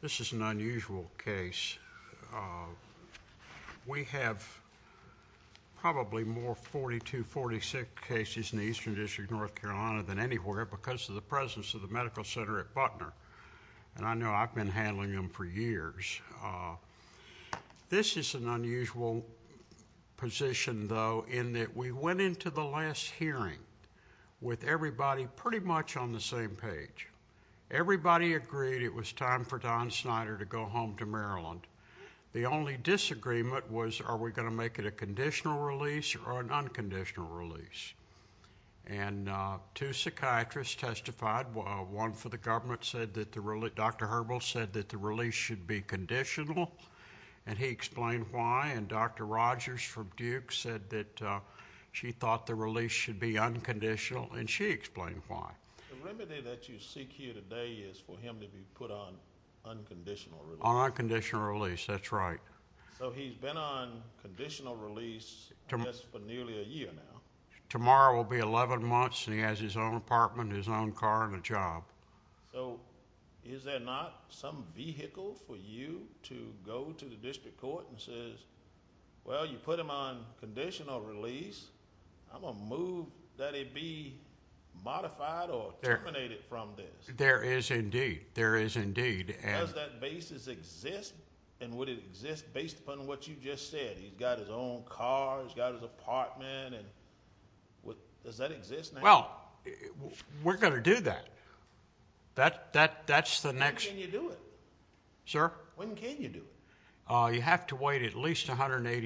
This is an unusual case. We have probably more 42, 46 cases in the Eastern District of North Carolina than anywhere because of the presence of the Medical Center at Butner. And I know I've been handling them for years. This is an unusual position, though, in that we went into the last hearing with everybody pretty much on the same page. Everybody agreed it was time for Don Snyder to go home to Maryland. The only disagreement was, are we going to make it a conditional release or an unconditional release? And two psychiatrists testified. One for the government said that the release, Dr. Herbold said that the release should be unconditional, and she explained why. The remedy that you seek here today is for him to be put on unconditional release. Unconditional release, that's right. So he's been on conditional release for nearly a year now. Tomorrow will be 11 months, and he has his own apartment, his own car, and a job. So is there not some vehicle for you to go to the District Court and say, well, you put him on conditional release, I'm going to move that he be modified or terminated from this? There is indeed. There is indeed. Does that basis exist, and would it exist based upon what you just said? He's got his own car, he's got his apartment, and does that wait at least 180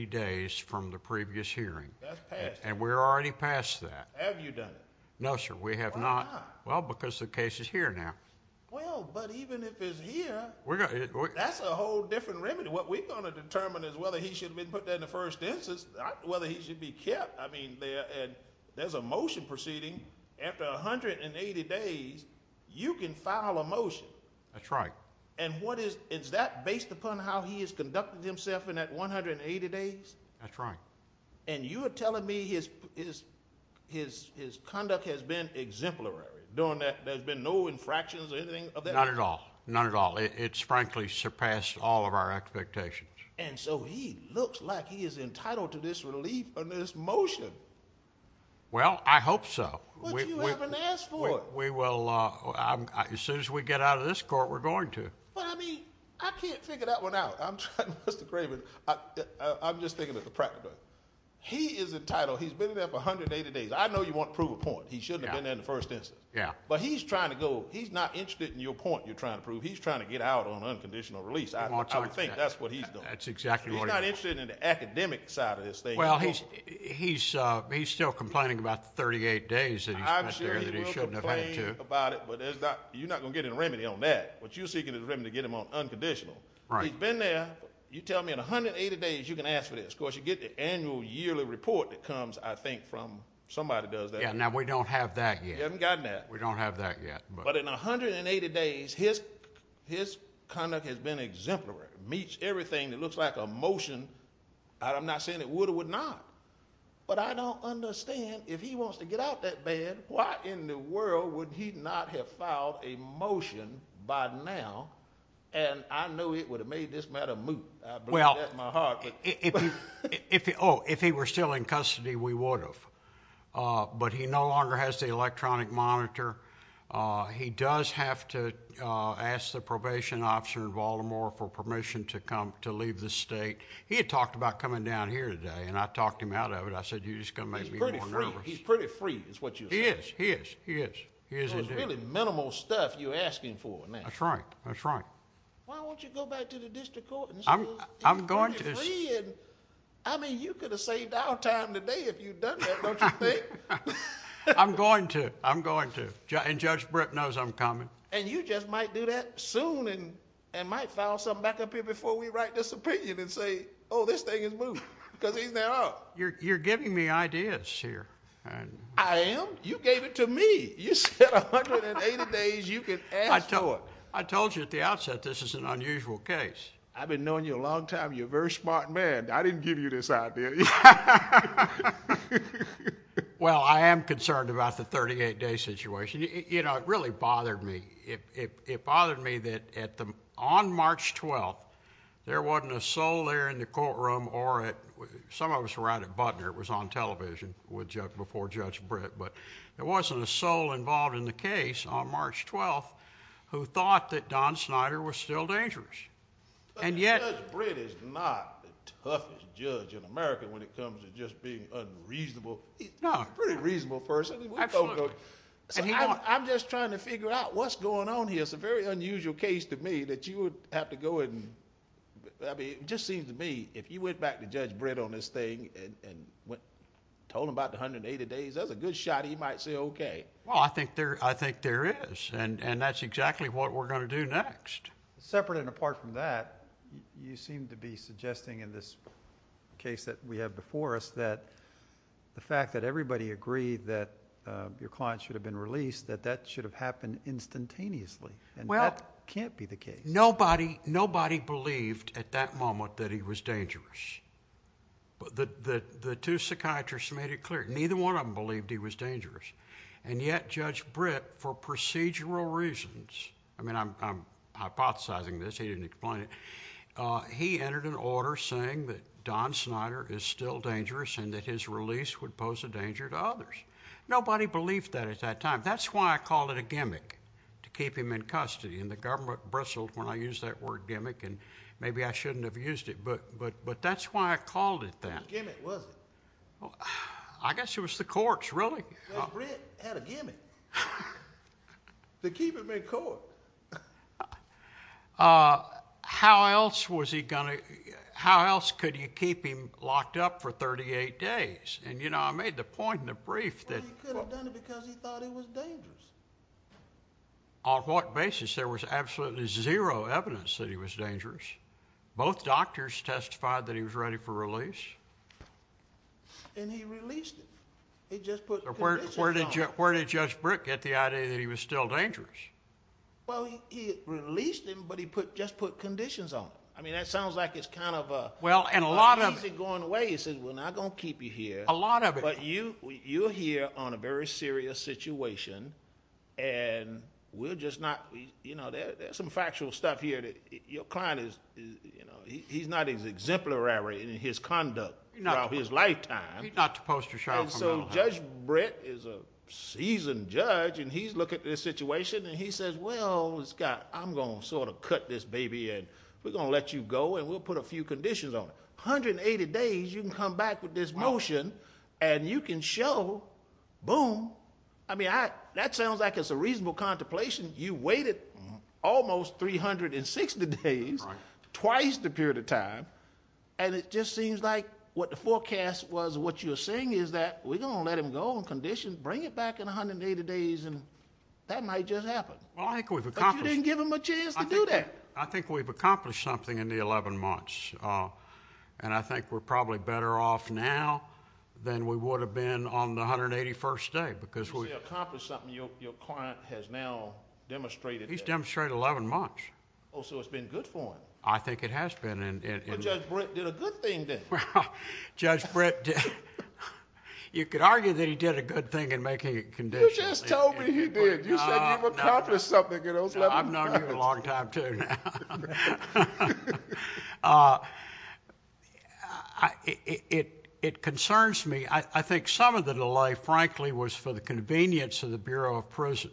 days from the previous hearing? And we're already past that. Have you done it? No, sir, we have not. Well, because the case is here now. Well, but even if it's here, that's a whole different remedy. What we're going to determine is whether he should have been put there in the first instance, whether he should be kept. I mean, there's a motion proceeding. After 180 days, you can file a motion. That's right. And what is, is that based upon how he has been in that 180 days? That's right. And you are telling me his conduct has been exemplary, there's been no infractions or anything of that nature? Not at all. Not at all. It's frankly surpassed all of our expectations. And so he looks like he is entitled to this relief under this motion. Well, I hope so. But you haven't asked for it. As soon as we get out of this court, we're going to. But I mean, I can't figure that one out. Mr. Craven, I'm just thinking of the practical. He is entitled, he's been there for 180 days. I know you want to prove a point. He shouldn't have been there in the first instance. Yeah. But he's trying to go, he's not interested in your point you're trying to prove. He's trying to get out on unconditional release. I think that's what he's doing. That's exactly what he's doing. He's not interested in the academic side of this thing. Well, he's still complaining about the 38 days that he spent there that he shouldn't have had to. I'm sure he will complain about it, but you're not going to get any remedy on that. What you're seeking is a remedy to get him on unconditional. Right. He's been there. You tell me in 180 days you're going to ask for this. Of course, you get the annual yearly report that comes, I think, from somebody does that. Yeah, now we don't have that yet. You haven't gotten that. We don't have that yet. But in 180 days, his conduct has been exemplary. It meets everything. It looks like a motion. I'm not saying it would or would not. But I don't understand if he wants to get out that bad, why in the world would he not have filed a motion by now? And I know it would have made this matter moot. I believe that in my heart. Well, if he were still in custody, we would have. But he no longer has the electronic monitor. He does have to ask the probation officer in Baltimore for permission to come to leave the state. He had talked about coming down here today, and I talked him out of it. I said, you're not going to make me more nervous. He's pretty free, is what you're saying. He is. He is. He is indeed. It's really minimal stuff you're asking for now. That's right. That's right. Why don't you go back to the district court and say... I'm going to... I mean, you could have saved our time today if you had done that, don't you think? I'm going to. I'm going to. And Judge Britt knows I'm coming. And you just might do that soon and might file something back up here before we write this opinion and say, oh, this thing is moot because he's now up. You're giving me ideas here. I am. You gave it to me. You said 180 days. You can ask for it. I told you at the outset this is an unusual case. I've been knowing you a long time. You're a very smart man. I didn't give you this idea. Well, I am concerned about the 38-day situation. You know, it really bothered me. It bothered me that on March 12th, there wasn't a soul there in the courtroom or at... some of us were out at Butner. It was on television before Judge Britt. But there wasn't a soul involved in the case on March 12th who thought that Don Snyder was still dangerous. And yet... Judge Britt is not the toughest judge in America when it comes to just being unreasonable. No, a pretty reasonable person. Absolutely. I'm just trying to figure out what's going on here. It's a very unusual case to me that you would have to go and... I mean, it just seems to me if you went back to Judge Britt on this thing and told him about the 180 days, that's a good shot he might say, okay. Well, I think there is. And that's exactly what we're going to do next. Separate and apart from that, you seem to be suggesting in this case that we have before us that the fact that everybody agreed that your client should have been released, that that should have happened instantaneously. And that can't be the case. Nobody believed at that moment that he was dangerous. The two psychiatrists made it clear. Neither one of them believed he was dangerous. And yet Judge Britt, for procedural reasons, I mean, I'm hypothesizing this. He didn't explain it. He entered an order saying that Don Snyder is still dangerous and that his release would pose a danger to others. Nobody believed that at that time. That's why I called it a gimmick to keep him in custody. And the government bristled when I used that word gimmick and maybe I shouldn't have used it. But that's why I called it that. What gimmick was it? I guess it was the courts, really. Judge Britt had a gimmick to keep him in court. How else was he going to... how else could you keep him locked up for 38 days? And, you know, I made the point in the brief that... Only because he thought he was dangerous. On what basis? There was absolutely zero evidence that he was dangerous. Both doctors testified that he was ready for release. And he released him. He just put conditions on him. Where did Judge Britt get the idea that he was still dangerous? Well, he released him, but he just put conditions on him. I mean, that sounds like it's kind of a... Well, and a lot of...... easy going way. He says, well, now I'm going to keep you here. A lot of it. But you're here on a very serious situation, and we're just not... you know, there's some factual stuff here that your client is... he's not as exemplary in his conduct throughout his lifetime. He's not supposed to show up for a little while. And so Judge Britt is a seasoned judge, and he's looking at this situation, and he says, well, Scott, I'm going to sort of cut this baby in. We're going to let you go, and we'll put a few conditions on it. 180 days, you can come back with this motion, and you can show, boom. I mean, that sounds like it's a reasonable contemplation. You waited almost 360 days. Right. Twice the period of time, and it just seems like what the forecast was, what you're saying is that we're going to let him go on conditions, bring it back in 180 days, and that might just happen. Well, I think we've accomplished... But you didn't give him a chance to do that. I think we've accomplished something in the 11 months, and I think we're probably better off now than we would have been on the 181st day, because we... You say accomplished something. Your client has now demonstrated that. He's demonstrated 11 months. Oh, so it's been good for him. I think it has been. But Judge Britt did a good thing then. Well, Judge Britt... you could argue that he did a good thing in making it conditionally... You just told me he did. You said you've accomplished something in those 11 months. I've known you a long time, too, now. It concerns me. I think some of the delay, frankly, was for the convenience of the Bureau of Prisons.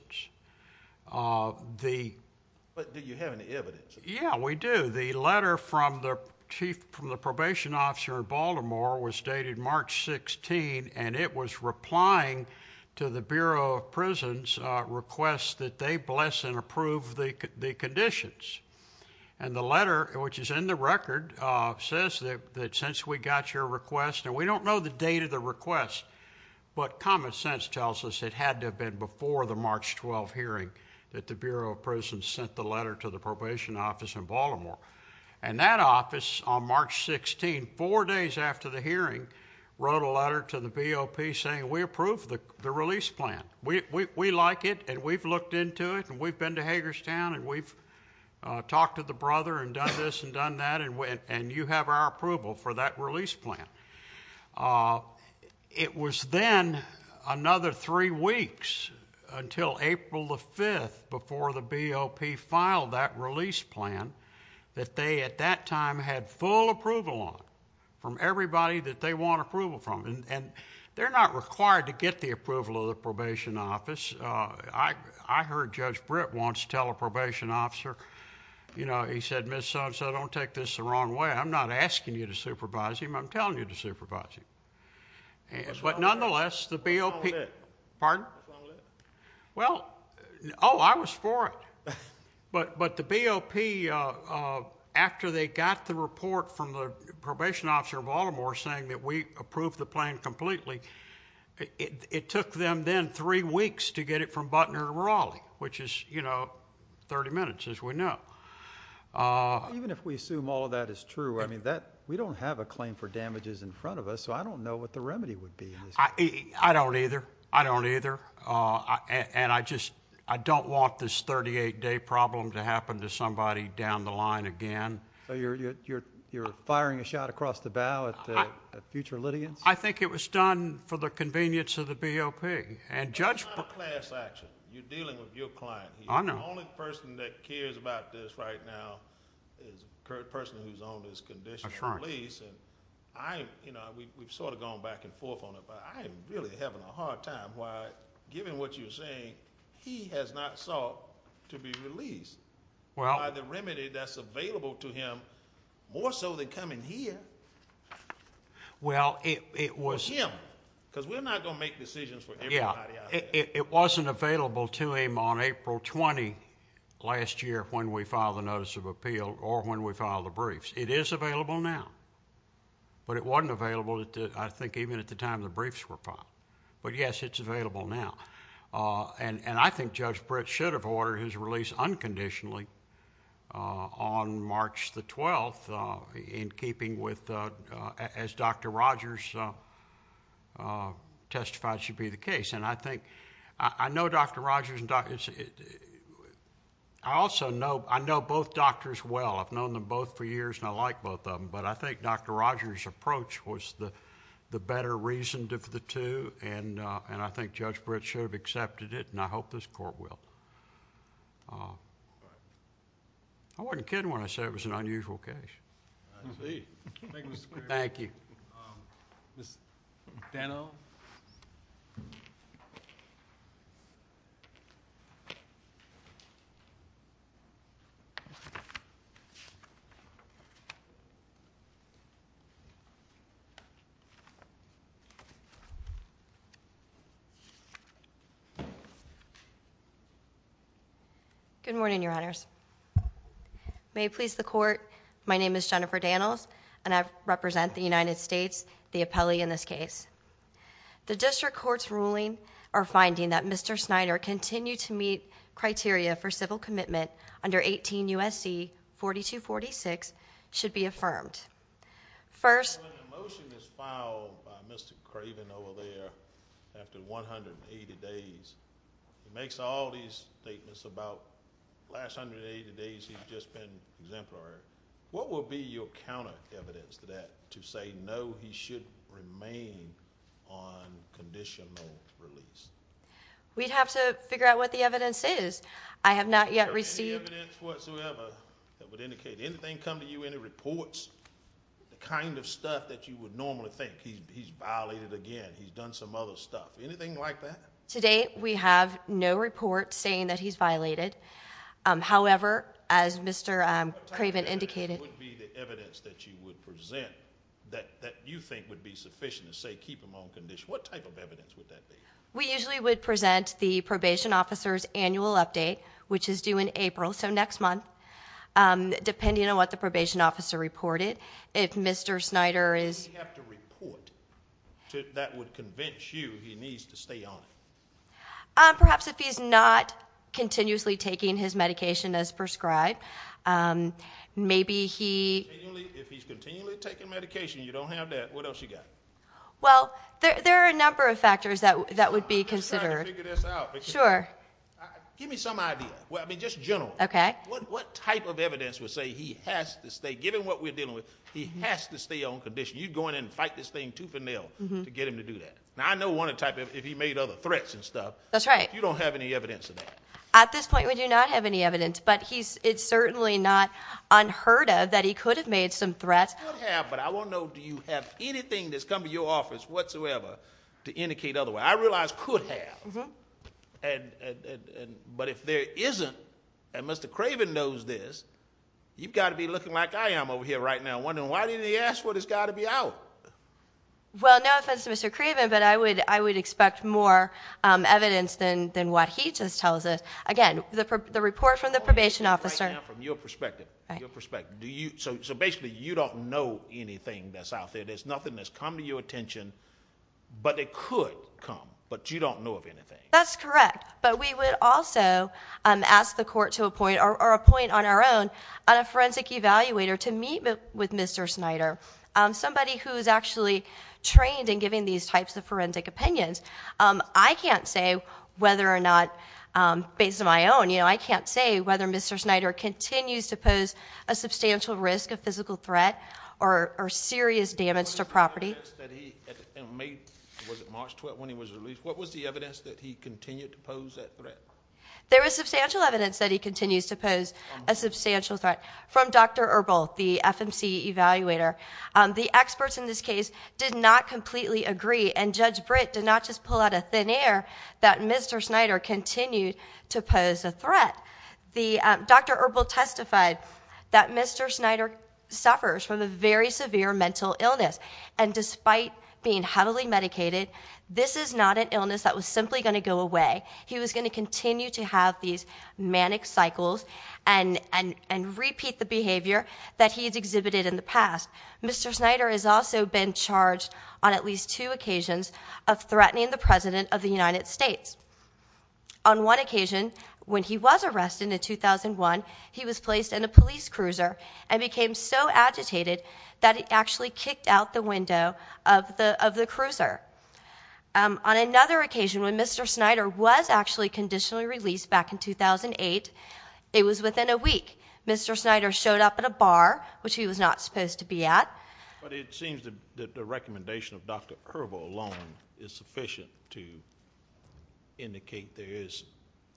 But do you have any evidence? Yeah, we do. The letter from the chief... from the probation officer in Baltimore was dated March 16, and it was replying to the Bureau of Prisons' request that they bless and approve the conditions. And the letter, which is in the record, says that since we got your request... And we don't know the date of the request, but common sense tells us it had to have been before the March 12 hearing that the Bureau of Prisons sent the letter to the probation office in Baltimore. And that office, on March 16, four days after the hearing, wrote a letter to the BOP saying, we approve the release plan. We like it, and we've looked into it, and we've been to Hagerstown, and we've talked to the brother and done this and done that, and you have our approval for that release plan. It was then another three weeks, until April 5, before the BOP filed that release plan, that they, at that time, had full approval on it from everybody that they want approval from. And they're not required to get the approval of the probation office. I heard Judge Britt once tell a probation officer, you know, he said, Ms. Sunstein, don't take this the wrong way. I'm not asking you to supervise him. I'm telling you to supervise him. But nonetheless, the BOP. Pardon? Well, oh, I was for it. But the BOP, after they got the report from the probation officer of Baltimore saying that we approved the plan completely, it took them then three weeks to get it from Butner to Raleigh, which is, you know, 30 minutes, as we know. Even if we assume all of that is true, I mean, we don't have a claim for damages in front of us, so I don't know what the remedy would be. I don't either. I don't either. And I just... I don't want this 38-day problem to happen to somebody down the line again. So you're firing a shot across the bow at future litigants? I think it was done for the convenience of the BOP. And Judge... It's not a class action. You're dealing with your client. I know. And the only person that cares about this right now is the person who's on this condition of release. That's right. And I, you know, we've sort of gone back and forth on it, but I am really having a hard time why, given what you're saying, he has not sought to be released. Well... By the remedy that's available to him, more so than coming here. Well, it was... For him. Because we're not going to make decisions for everybody out there. Well, it wasn't available to him on April 20 last year when we filed the Notice of Appeal or when we filed the briefs. It is available now. But it wasn't available, I think, even at the time the briefs were filed. But yes, it's available now. And I think Judge Britt should have ordered his release unconditionally on March the 12th in keeping with... as Dr. Rogers testified should be the case. And I think... I know Dr. Rogers and Dr.... I also know... I know both doctors well. I've known them both for years and I like both of them. But I think Dr. Rogers' approach was the better reasoned of the two. And I think Judge Britt should have accepted it, and I hope this Court will. I wasn't kidding when I said it was an unusual case. I see. Thank you, Mr. Cramer. Thank you. Ms. Dano? Good morning, Your Honors. May it please the Court, my name is Jennifer Danos, and I represent the United States, the appellee in this case. The District Court's ruling or finding that Mr. Snyder continued to meet criteria for civil commitment under 18 U.S.C. 4246 should be affirmed. First... When a motion is filed by Mr. Craven over there, after 180 days, makes all these statements about the last 180 days he's just been exemplary, what will be your counter evidence to that to say, no, he should remain on conditional release? We'd have to figure out what the evidence is. I have not yet received... Is there any evidence whatsoever that would indicate anything come to you, any reports, the kind of stuff that you would normally think, he's violated again, he's done some other stuff, anything like that? To date, we have no reports saying that he's violated. However, as Mr. Craven indicated... What type of evidence would be the evidence that you would present that you think would be sufficient to say, keep him on conditional? What type of evidence would that be? We usually would present the probation officer's annual update, which is due in April, so next month, depending on what the probation officer reported. If Mr. Snyder is... Does he have to report that would convince you he needs to stay on? Perhaps if he's not continuously taking his medication as prescribed. Maybe he... If he's continually taking medication, you don't have that, what else you got? Well, there are a number of factors that would be considered. I'm just trying to figure this out. Sure. Give me some idea, just general. Okay. What type of evidence would say he has to stay, given what we're dealing with, he has to stay on condition. You'd go in and fight this thing tooth and nail to get him to do that. Now, I know one type, if he made other threats and stuff. That's right. You don't have any evidence of that. At this point, we do not have any evidence, but it's certainly not unheard of that he could have made some threats. He could have, but I want to know, do you have anything that's come to your office whatsoever to indicate otherwise? I realize could have, but if there isn't, and Mr. Craven knows this, you've got to be looking like I am over here right now, wondering, why did he ask what has got to be out? Well, no offense to Mr. Craven, but I would expect more evidence than what he just tells us. Again, the report from the probation officer. From your perspective, so basically you don't know anything that's out there. There's nothing that's come to your attention, but it could come, but you don't know of anything. That's correct, but we would also ask the court to appoint or appoint on our own a forensic evaluator to meet with Mr. Snyder, somebody who's actually trained in giving these types of forensic opinions. I can't say whether or not, based on my own, I can't say whether Mr. Snyder continues to pose a substantial risk of physical threat or serious damage to property. Was it March 12th when he was released? What was the evidence that he continued to pose that threat? There was substantial evidence that he continues to pose a substantial threat. From Dr. Erbol, the FMC evaluator, the experts in this case did not completely agree, and Judge Britt did not just pull out a thin air that Mr. Snyder continued to pose a threat. Dr. Erbol testified that Mr. Snyder suffers from a very severe mental illness, and despite being heavily medicated, this is not an illness that was simply going to go away. He was going to continue to have these manic cycles and repeat the behavior that he's exhibited in the past. Mr. Snyder has also been charged on at least two occasions of threatening the President of the United States. On one occasion, when he was arrested in 2001, he was placed in a police cruiser and became so agitated that he actually kicked out the window of the cruiser. On another occasion, when Mr. Snyder was actually conditionally released back in 2008, it was within a week. Mr. Snyder showed up at a bar, which he was not supposed to be at. But it seems that the recommendation of Dr. Erbol alone is sufficient to indicate there is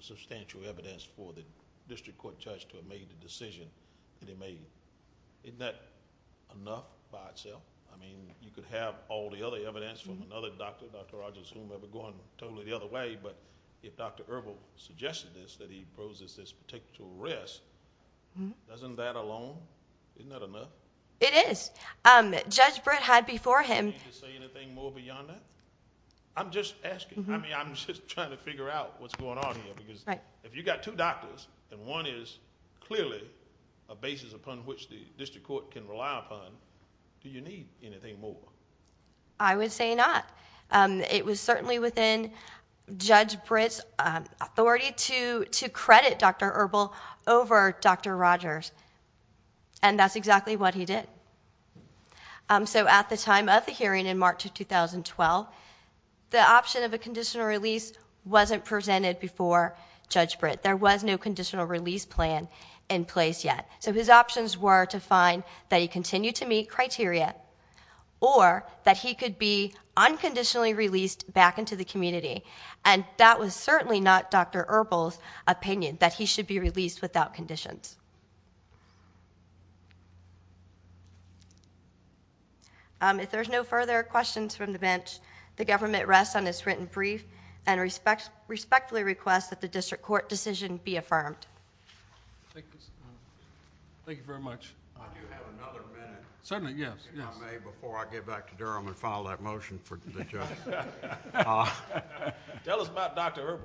substantial evidence for the district court judge to have made the decision that he made. Isn't that enough by itself? I mean, you could have all the other evidence from another doctor, Dr. Rogers, whom have gone totally the other way, but if Dr. Erbol suggested this, that he poses this particular risk, doesn't that alone... isn't that enough? It is. Judge Brett had before him... Do you need to say anything more beyond that? I'm just asking. I mean, I'm just trying to figure out what's going on here, because if you've got two doctors, and one is clearly a basis upon which the district court can rely upon, do you need anything more? I would say not. It was certainly within Judge Brett's authority to credit Dr. Erbol over Dr. Rogers, and that's exactly what he did. So, at the time of the hearing in March of 2012, the option of a conditional release wasn't presented before Judge Brett. There was no conditional release plan in place yet. So, his options were to find that he continued to meet criteria, or that he could be unconditionally released back into the community. And, that was certainly not Dr. Erbol's opinion, that he should be released without conditions. If there's no further questions from the bench, the government rests on its written brief, and respectfully requests that the district court decision be affirmed. Thank you very much. I do have another minute, if I may, before I get back to Durham and file that motion for the judge. Tell us about Dr.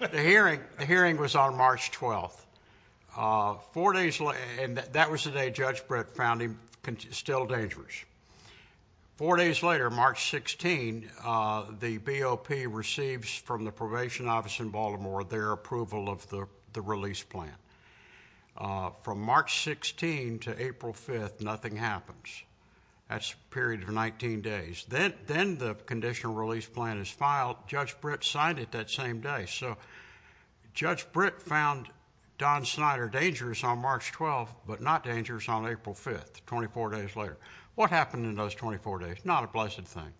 Erbol. The hearing was on March 12th. That was the day Judge Brett found him still dangerous. Four days later, March 16th, the BOP receives from the probation office in Baltimore their approval of the release plan. From March 16th to April 5th, nothing happens. That's a period of 19 days. Then, the conditional release plan is filed. Judge Brett signed it that same day. So, Judge Brett found Don Snyder dangerous on March 12th, but not dangerous on April 5th, 24 days later. What happened in those 24 days? Not a blessed thing,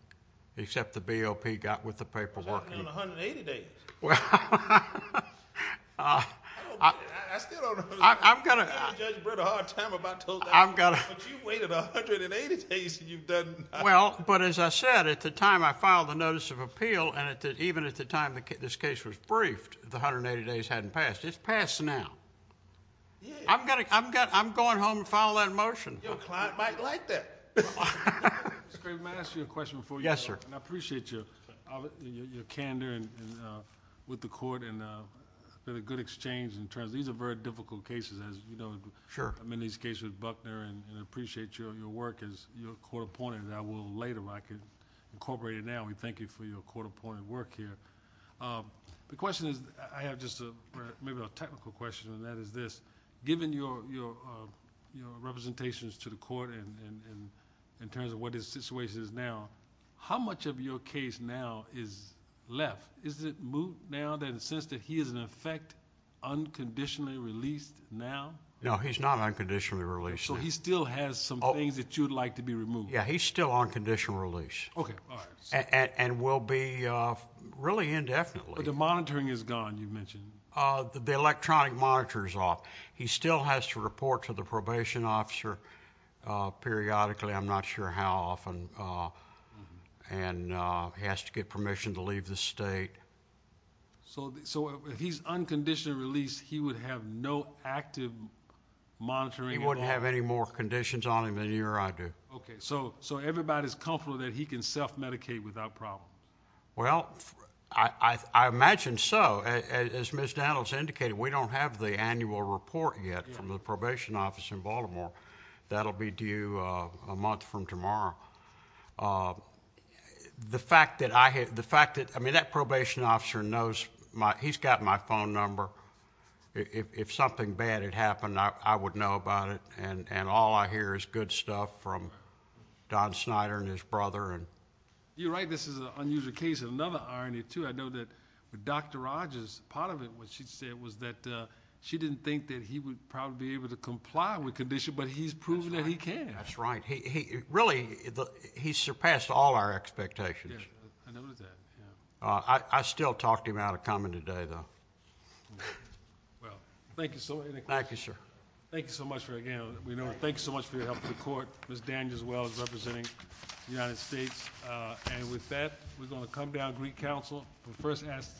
except the BOP got with the paperwork. It happened in 180 days. Well, I'm going to... I still don't understand. I gave Judge Brett a hard time about that. I've got to... But, you've waited 180 days, and you've done nothing. Well, but as I said, at the time I filed the notice of appeal, and even at the time this case was briefed, the 180 days hadn't passed. It's passed now. I'm going home to file that motion. Your client might like that. Mr. Craven, may I ask you a question before you go? Yes, sir. I appreciate your candor with the court, and a good exchange in terms... These are very difficult cases, as you know. Sure. I'm in these cases with Buckner, and I appreciate your work as your court appointed. I will later, when I can incorporate it now. We thank you for your court appointed work here. The question is... I have just maybe a technical question, and that is this. Given your representations to the court in terms of what his situation is now, how much of your case now is left? Is it moved now that in a sense that he is in effect unconditionally released now? No, he's not unconditionally released now. So, he still has some things that you would like to be removed? Yes, he's still unconditionally released, and will be really indefinitely. But the monitoring is gone, you mentioned. The electronic monitor is off. He still has to report to the probation officer periodically. I'm not sure how often, and he has to get permission to leave the state. So, if he's unconditionally released, he would have no active monitoring at all? He wouldn't have any more conditions on him than you or I do. Okay. So, everybody's comfortable that he can self-medicate without problem? Well, I imagine so. As Ms. Daniels indicated, we don't have the annual report yet from the probation office in Baltimore. That will be due a month from tomorrow. I mean, that probation officer, he's got my phone number. If something bad had happened, I would know about it, and all I hear is good stuff from Don Snyder and his brother. You're right. This is an unusual case of another irony, too. I know that Dr. Rogers, part of it, what she said was that she didn't think that he would probably be able to comply with conditions, but he's proven that he can. That's right. Really, he surpassed all our expectations. Yeah, I noticed that. I still talked him out of coming today, though. Well, thank you so much. Thank you, sir. Thank you so much, again. We know. Thank you so much for your help to the court. Ms. Daniels, as well, is representing the United States, and with that, we're going to come down to Greek Council. We'll first ask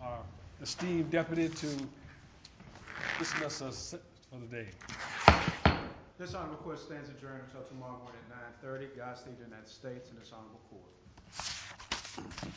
our esteemed deputy to give us a seat for the day. This honorable court stands adjourned until tomorrow morning at 930. Godspeed to the United States and this honorable court.